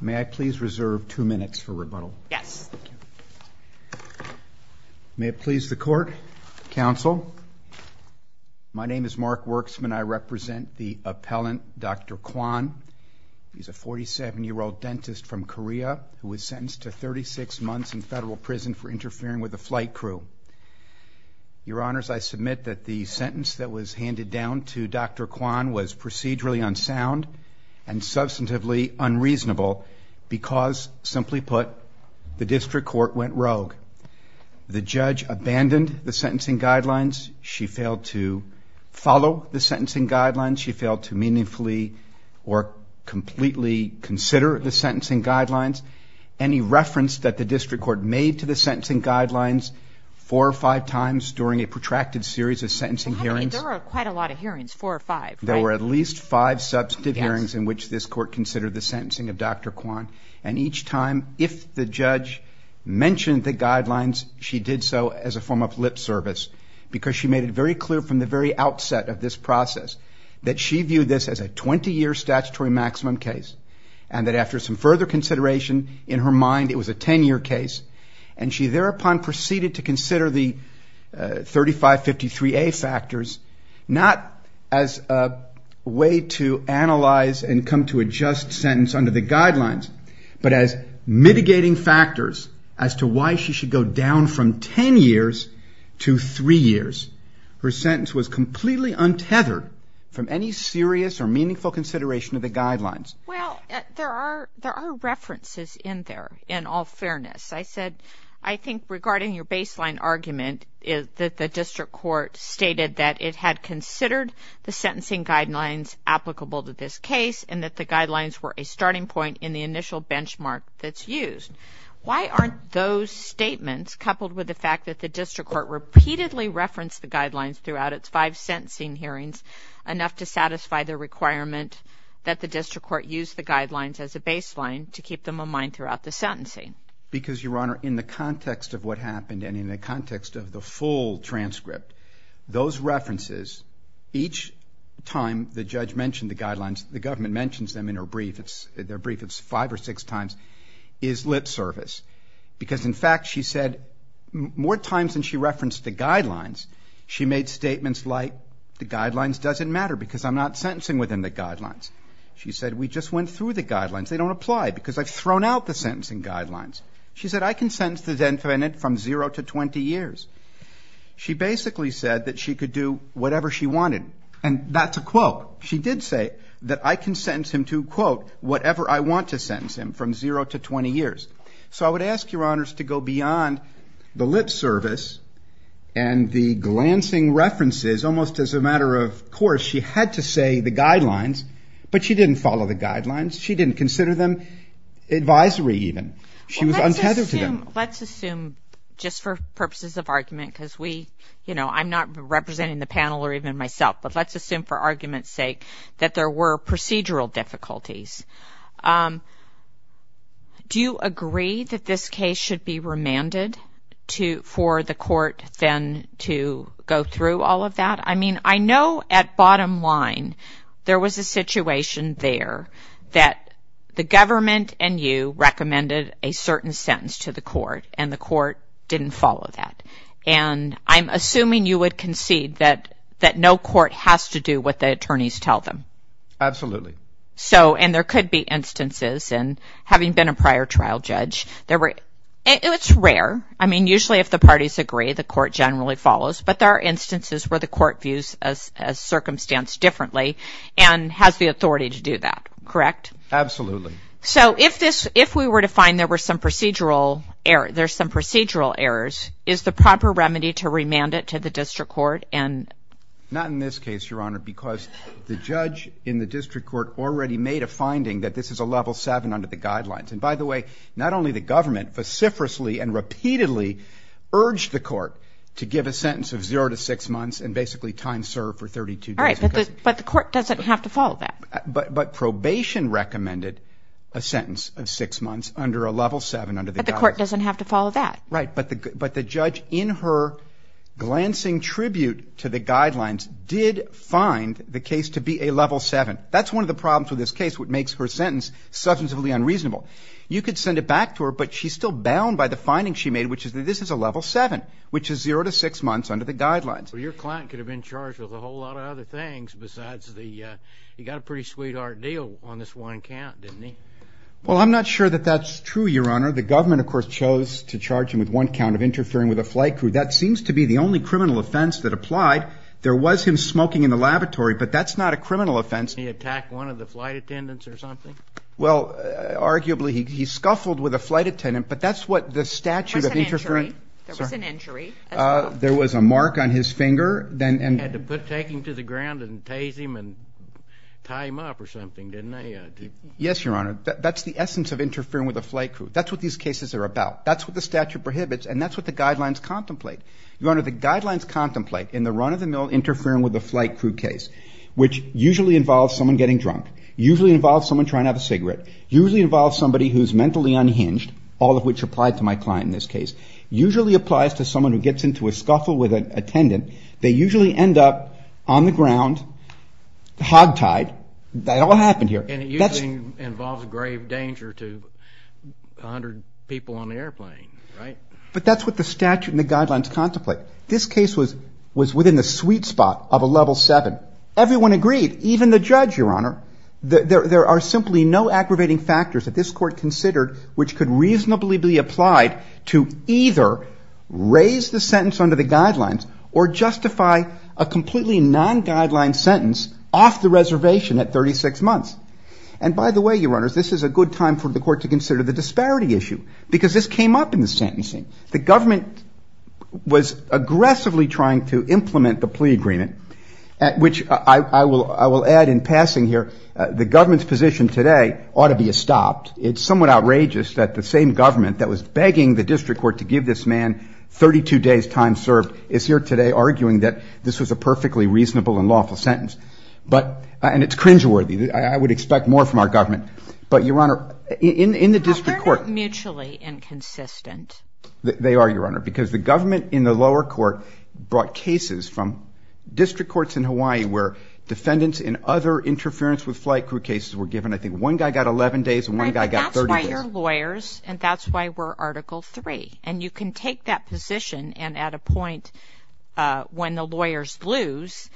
May I please reserve two minutes for rebuttal? Yes. May it please the court, counsel. My name is Mark Worksman. I represent the appellant, Dr. Kwon. He's a 47-year-old dentist from Korea who was sentenced to 36 months in federal prison for interfering with a flight crew. Your Honors, I submit that the sentence that was handed down to Dr. Kwon was procedurally unsound and substantively unreasonable because, simply put, the district court went rogue. The judge abandoned the sentencing guidelines. She failed to follow the sentencing guidelines. She failed to meaningfully or completely consider the sentencing guidelines. Any reference that the district court made to the sentencing guidelines four or five times during a protracted series of sentencing hearings There are quite a lot of hearings, four or five. There were at least five substantive hearings in which this court considered the sentencing of Dr. Kwon and each time if the judge mentioned the guidelines she did so as a form of lip service because she made it very clear from the very outset of this process that she viewed this as a 20-year statutory maximum case and that after some further consideration in her mind it was a 10-year case and she thereupon proceeded to consider the 3553A factors not as a way to analyze and come to a just sentence under the guidelines but as mitigating factors as to why she should go down from 10 years to three years. Her sentence was completely untethered from any serious or meaningful consideration of the guidelines. Well, there are references in there in all fairness. I said I think regarding your baseline argument is that the district court stated that it had considered the sentencing guidelines applicable to this case and that the guidelines were a starting point in the initial benchmark that's used. Why aren't those statements coupled with the fact that the district court repeatedly referenced the guidelines throughout its five sentencing hearings enough to use the guidelines as a baseline to keep them in mind throughout the sentencing? Because your honor in the context of what happened and in the context of the full transcript those references each time the judge mentioned the guidelines the government mentions them in her brief it's their brief it's five or six times is lip service because in fact she said more times than she referenced the guidelines she made statements like the guidelines doesn't matter because I'm not sentencing within the guidelines she said we just went through the guidelines they don't apply because I've thrown out the sentencing guidelines she said I can sentence the defendant from 0 to 20 years she basically said that she could do whatever she wanted and that's a quote she did say that I can sentence him to quote whatever I want to sentence him from 0 to 20 years so I would ask your honors to go beyond the lip service and the glancing references almost as a matter of course she had to say the guidelines but she didn't follow the guidelines she didn't consider them advisory even she was untethered let's assume just for purposes of argument because we you know I'm not representing the panel or even myself but let's assume for argument's sake that there were procedural difficulties do you to go through all of that I mean I know at bottom line there was a situation there that the government and you recommended a certain sentence to the court and the court didn't follow that and I'm assuming you would concede that that no court has to do what the attorneys tell them absolutely so and there could be instances and having been a prior trial judge there were it's rare I mean usually if the parties agree the court generally follows but there are instances where the court views as a circumstance differently and has the authority to do that correct absolutely so if this if we were to find there were some procedural error there's some procedural errors is the proper remedy to remand it to the district court and not in this case your honor because the judge in the district court already made a finding that this is a level 7 under the court to give a sentence of zero to six months and basically time served for 32 all right but the court doesn't have to follow that but but probation recommended a sentence of six months under a level 7 under the court doesn't have to follow that right but the but the judge in her glancing tribute to the guidelines did find the case to be a level 7 that's one of the problems with this case what makes her sentence substantively unreasonable you could send it back to her but she's still bound by the finding she made which is that this is a level 7 which is zero to six months under the guidelines for your client could have been charged with a whole lot of other things besides the you got a pretty sweetheart deal on this one count didn't he well I'm not sure that that's true your honor the government of course chose to charge him with one count of interfering with a flight crew that seems to be the only criminal offense that applied there was him smoking in the laboratory but that's not a criminal offense he attacked one of the flight attendants or something well arguably he scuffled with a flight attendant but that's what the statute of interfering there was an injury there was a mark on his finger then and had to put taking to the ground and tase him and tie him up or something didn't I yes your honor that's the essence of interfering with a flight crew that's what these cases are about that's what the statute prohibits and that's what the guidelines contemplate your honor the guidelines contemplate in the run of the mill interfering with the flight crew case which usually involves someone getting drunk usually involves someone trying to have a cigarette usually involves somebody who's mentally unhinged all of which applied to my client in this case usually applies to someone who gets into a scuffle with an attendant they usually end up on the ground hogtied that all happened here and it usually involves grave danger to a hundred people on the airplane right but that's what the statute and the guidelines contemplate this case was was in the judge your honor there are simply no aggravating factors that this court considered which could reasonably be applied to either raise the sentence under the guidelines or justify a completely non-guideline sentence off the reservation at 36 months and by the way your honors this is a good time for the court to consider the disparity issue because this came up in the sentencing the government was aggressively trying to implement the in passing here the government's position today ought to be a stopped it's somewhat outrageous that the same government that was begging the district court to give this man 32 days time served is here today arguing that this was a perfectly reasonable and lawful sentence but and it's cringeworthy I would expect more from our government but your honor in in the district court mutually inconsistent they are your honor because the government in the lower court brought cases from district courts in Hawaii where defendants in other interference with flight crew cases were given I think one guy got 11 days and one guy got 30 lawyers and that's why we're article 3 and you can take that position and at a point when the lawyers lose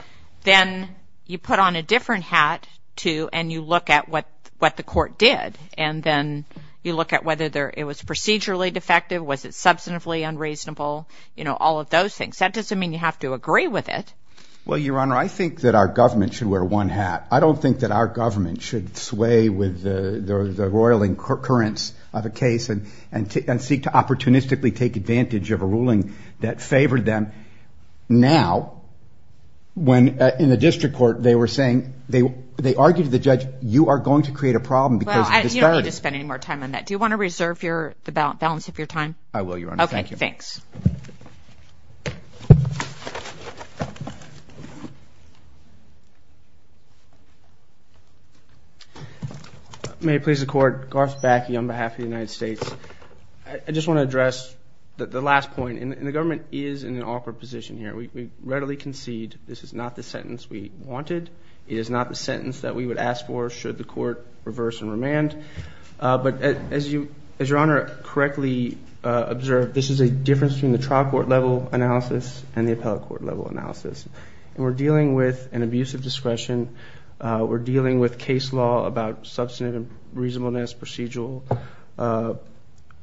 then you put on a different hat to and you look at what what the court did and then you look at whether there it was procedurally defective was it substantively unreasonable you know all of those things that doesn't mean you have to agree with it well your honor I think that our government should wear one hat I don't think that our government should sway with the roiling currents of a case and and seek to opportunistically take advantage of a ruling that favored them now when in the district court they were saying they they argued the judge you are going to create a problem because you don't need to spend any more time on that do you want to reserve your the balance of your time I will your honor thank you thanks may please the court Garth backy on behalf of the United States I just want to address that the last point in the government is in an awkward position here we readily concede this is not the sentence we wanted it is not the sentence that we would ask for should the court reverse and remand but as you as your honor correctly observed this is a difference between the trial court level analysis and the appellate court level analysis and we're dealing with an abusive discretion we're dealing with case law about substantive reasonableness procedural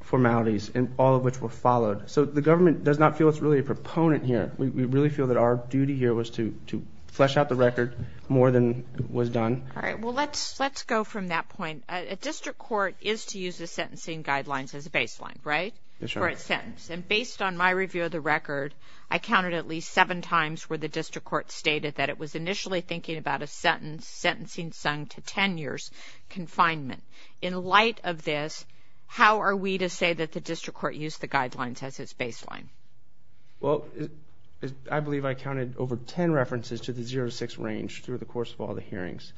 formalities and all of which were followed so the government does not feel it's really a proponent here we really feel that our duty here was to to flesh out the record more than was done all right well let's let's go from that point a district court is to use the sentencing guidelines as a baseline right it's right sentence and based on my review of the record I counted at least seven times where the district court stated that it was initially thinking about a sentence sentencing sung to ten years confinement in light of this how are we to say that the district court used the guidelines as its baseline well I believe I counted over ten references to the 0-6 range through the course of all the hearings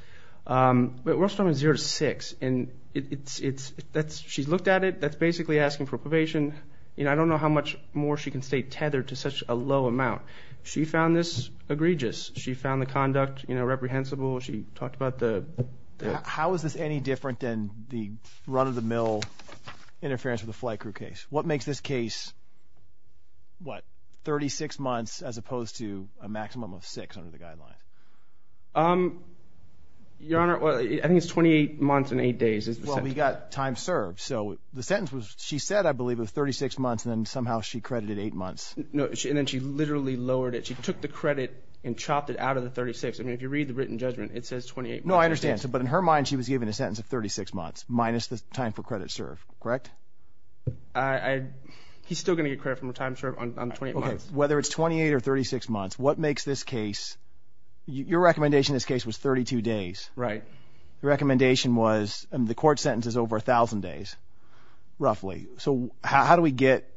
but we're still in 0-6 and it's it's that's she's looked at it that's basically asking for probation you know I don't know how much more she can stay tethered to such a low amount she found this egregious she found the conduct you know reprehensible she talked about the how is this any different than the run-of-the-mill interference with a flight crew case what makes this case what 36 months as opposed to a maximum of six under the guideline um your honor well I think it's 28 months in eight days as well we got time served so the sentence was she said I believe of 36 months and then somehow she credited eight months no she and then she literally lowered it she took the credit and chopped it out of the 36 I mean if you read the written judgment it says 28 no I understand so but in her mind she was given a sentence of 36 months minus the time for credit serve correct I he's still gonna get credit from a time serve on 28 whether it's 28 or 36 months what makes this case your recommendation this case was 32 days right the recommendation was and the court sentence is over a thousand days roughly so how do we get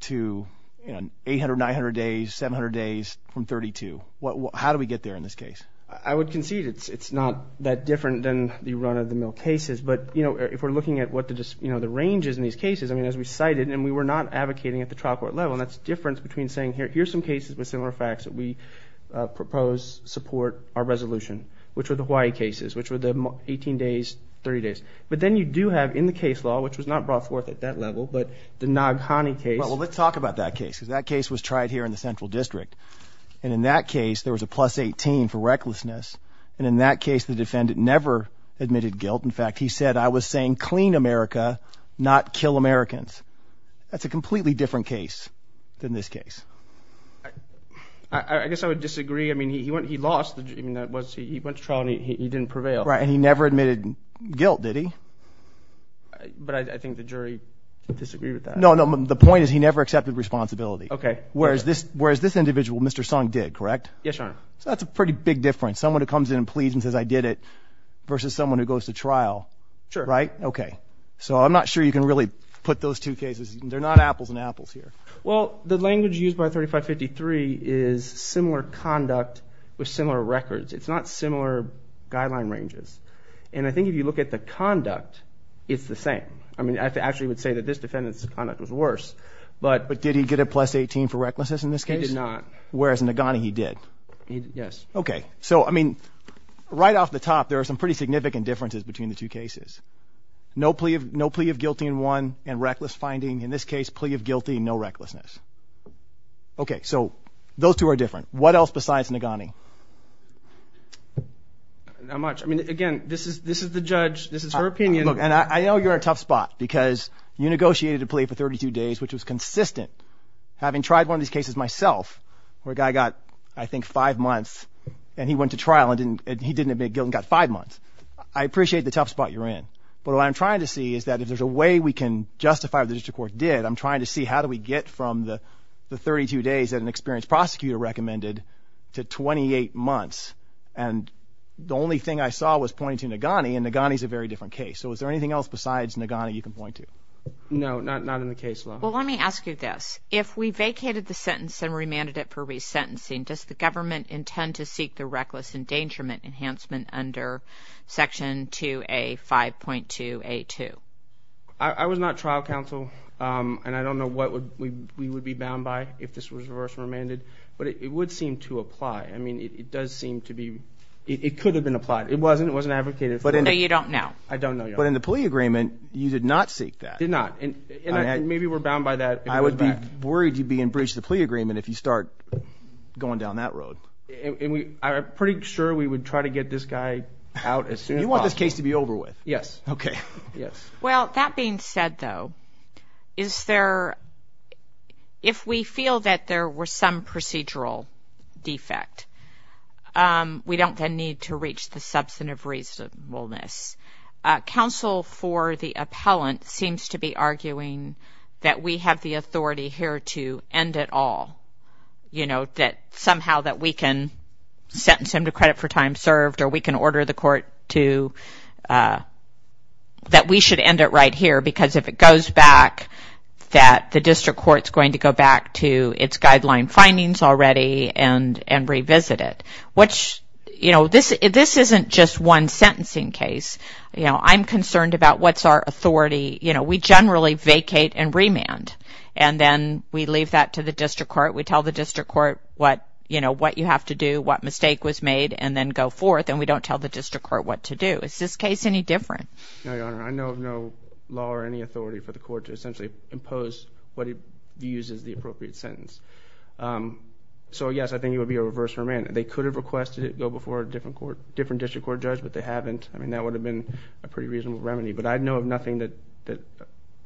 to you know 800 900 days 700 days from 32 what how do we get there in this case I would concede it's it's not that different than the run-of-the-mill cases but you know if we're looking at what to just you know the ranges in these cases I mean as we cited and we were not advocating at the trial court level and that's difference between saying here here's some cases with similar facts that we propose support our resolution which were the Hawaii cases which were the 18 days 30 days but then you do have in the case law which was not brought forth at that level but the Naghani case well let's talk about that case because that case was tried here in the Central District and in that case there was a plus 18 for recklessness and in that case the defendant never admitted guilt in fact he said I was saying clean America not kill Americans that's a completely different case than this case I guess I would disagree I mean he went he lost the dream that was he went to trial and he didn't prevail right and he never admitted guilt did he but I think the jury disagree with that no no the point is he never accepted responsibility okay where's this where's this individual mr. song did correct yes sir so that's a pretty big difference someone who comes in and please and says I did it versus someone who goes to trial sure right okay so I'm not sure you can really put those two cases they're not apples and apples here well the language used by 3553 is similar conduct with similar records it's not similar guideline ranges and I think if you look at the conduct it's the same I mean I actually would say that this defendant's conduct was worse but but did he get a plus 18 for recklessness in this case not whereas in the Ghana he did yes okay so I mean right off the top there are some pretty significant differences between the two cases no plea of no plea of guilty in one and reckless finding in this case plea of guilty no recklessness okay so those two are different what else besides Nagani how much I mean again this is this is the judge this is her opinion look and I know you're a tough spot because you negotiated a plea for 32 days which was consistent having tried one of these cases myself where a guy got I think five months and he went to trial and didn't he didn't admit guilt got five months I appreciate the tough spot you're in but what I'm trying to see is that if there's a way we can justify the district court did I'm trying to see how do we get from the 32 days that an experienced prosecutor recommended to 28 months and the only thing I saw was pointing to Nagani and Nagani is a very different case so is there anything else besides Nagani you can point to no not not in the case well let me ask you this if we vacated the sentencing does the government intend to seek the reckless endangerment enhancement under section 2a 5.2 a2 I was not trial counsel and I don't know what would we would be bound by if this was reverse remanded but it would seem to apply I mean it does seem to be it could have been applied it wasn't it wasn't advocated but you don't know I don't know but in the plea agreement you did not seek that did not and maybe we're bound by that I would be worried you'd be in bridge the plea agreement if you start going down that road and we are pretty sure we would try to get this guy out as soon as you want this case to be over with yes okay yes well that being said though is there if we feel that there were some procedural defect we don't then need to reach the substantive reasonableness counsel for the appellant seems to be arguing that we have the authority here to end it all you know that somehow that we can sentence him to credit for time served or we can order the court to that we should end it right here because if it goes back that the district courts going to go back to its guideline findings already and and revisit it which you know this this isn't just one sentencing case you know I'm concerned about what's authority you know we generally vacate and remand and then we leave that to the district court we tell the district court what you know what you have to do what mistake was made and then go forth and we don't tell the district court what to do is this case any different I know no law or any authority for the court to essentially impose what he uses the appropriate sentence so yes I think it would be a reverse for a minute they could have requested it go before a different court different district court judge but they haven't I mean that would have been a pretty reasonable remedy but I'd know of nothing that that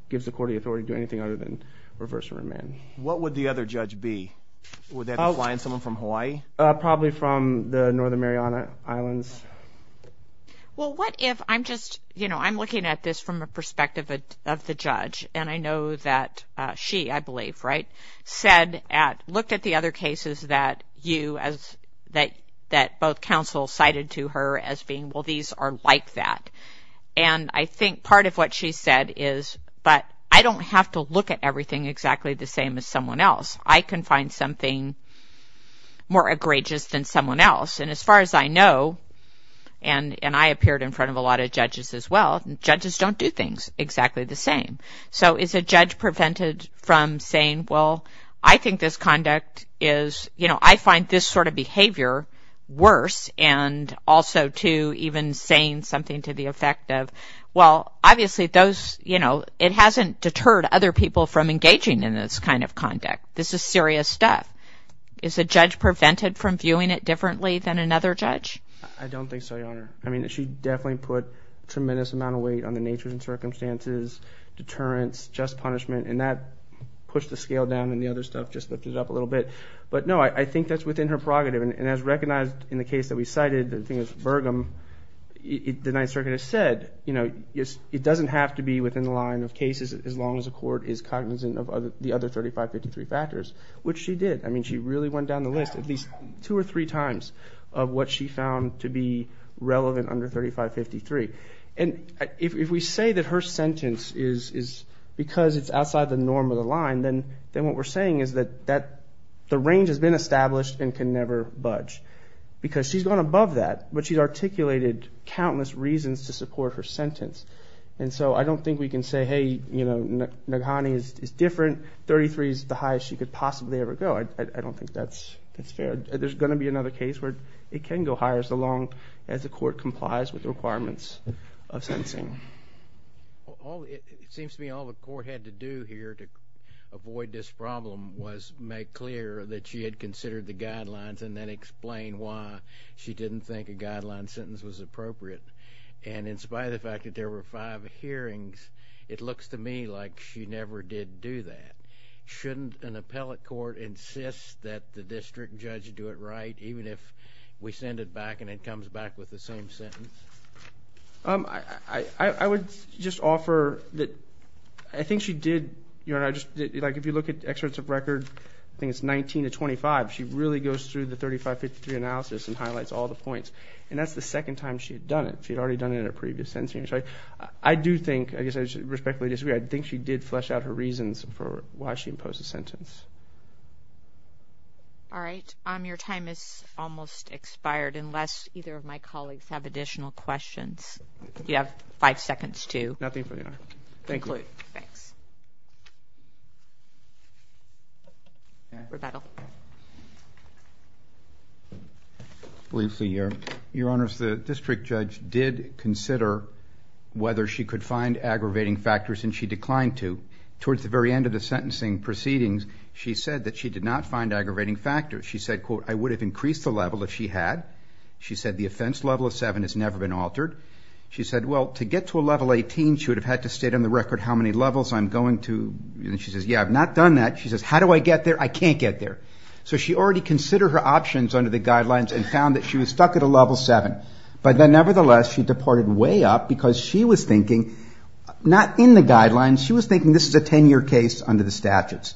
gives the court the authority to do anything other than reverse a remand what would the other judge be without lying someone from Hawaii probably from the Northern Mariana Islands well what if I'm just you know I'm looking at this from a perspective of the judge and I know that she I believe right said at looked at the other cases that you as that that both counsel cited to her as being well these are like that and I think part of what she said is but I don't have to look at everything exactly the same as someone else I can find something more egregious than someone else and as far as I know and and I appeared in front of a lot of judges as well judges don't do things exactly the same so is a judge prevented from saying well I think this conduct is you know I find this sort of saying something to the effect of well obviously those you know it hasn't deterred other people from engaging in this kind of conduct this is serious stuff is a judge prevented from viewing it differently than another judge I don't think so your honor I mean she definitely put tremendous amount of weight on the nature and circumstances deterrence just punishment and that pushed the scale down and the other stuff just lifted up a little bit but no I think that's within her prerogative and as recognized in the case that we them it the Ninth Circuit has said you know yes it doesn't have to be within the line of cases as long as a court is cognizant of other the other 3553 factors which she did I mean she really went down the list at least two or three times of what she found to be relevant under 3553 and if we say that her sentence is is because it's outside the norm of the line then then what we're saying is that that the range has been established and can never budge because she's gone above that but she's articulated countless reasons to support her sentence and so I don't think we can say hey you know Naghani is different 33 is the highest she could possibly ever go I don't think that's it's fair there's going to be another case where it can go higher so long as the court complies with the requirements of sentencing all it seems to me all the court had to do here to avoid this problem was make clear that she had the guidelines and then explain why she didn't think a guideline sentence was appropriate and in spite of the fact that there were five hearings it looks to me like she never did do that shouldn't an appellate court insist that the district judge do it right even if we send it back and it comes back with the same sentence I I would just offer that I think she did you know I just like if you look at excerpts of record I think it's 19 to 25 she really goes through the 3553 analysis and highlights all the points and that's the second time she had done it she'd already done it in a previous sentence right I do think I guess I should respectfully disagree I think she did flesh out her reasons for why she imposed a sentence all right um your time is almost expired unless either of my colleagues have additional questions you have five seconds to nothing for you thank you thanks briefly your your honors the district judge did consider whether she could find aggravating factors and she declined to towards the very end of the sentencing proceedings she said that she did not find aggravating factors she said quote I would have increased the level if she had she said the offense level of seven has never been altered she said well to get to a level 18 she would have had to state on the record how many levels I'm going to and she says yeah I've not done that she says how do I get there I can't get there so she already consider her options under the guidelines and found that she was stuck at a level 7 but then nevertheless she deported way up because she was thinking not in the guidelines she was thinking this is a 10-year case under the statutes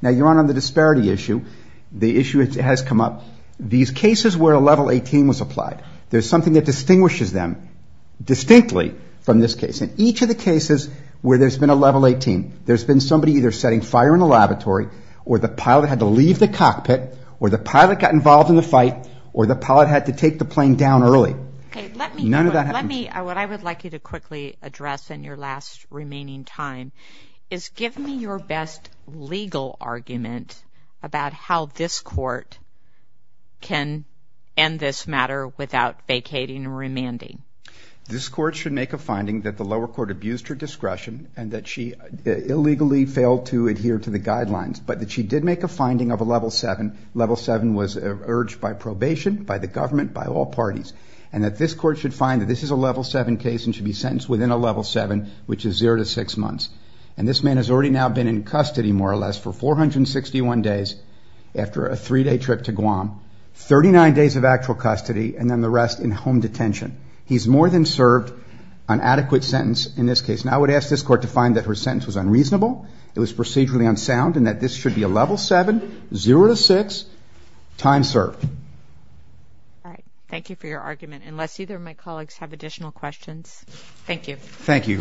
now you're on the disparity issue the issue it has come up these them distinctly from this case in each of the cases where there's been a level 18 there's been somebody either setting fire in the laboratory or the pilot had to leave the cockpit or the pilot got involved in the fight or the pilot had to take the plane down early what I would like you to quickly address in your last remaining time is give me your best legal argument about how this court can end this matter without vacating and remanding this court should make a finding that the lower court abused her discretion and that she illegally failed to adhere to the guidelines but that she did make a finding of a level 7 level 7 was urged by probation by the government by all parties and that this court should find that this is a level 7 case and should be sentenced within a level 7 which is 0 to 6 months and this man has already now been in custody more or 61 days after a three-day trip to Guam 39 days of actual custody and then the rest in home detention he's more than served an adequate sentence in this case and I would ask this court to find that her sentence was unreasonable it was procedurally unsound and that this should be a level 7 0 to 6 time served all right thank you for your argument unless either of my colleagues have additional questions thank you thank you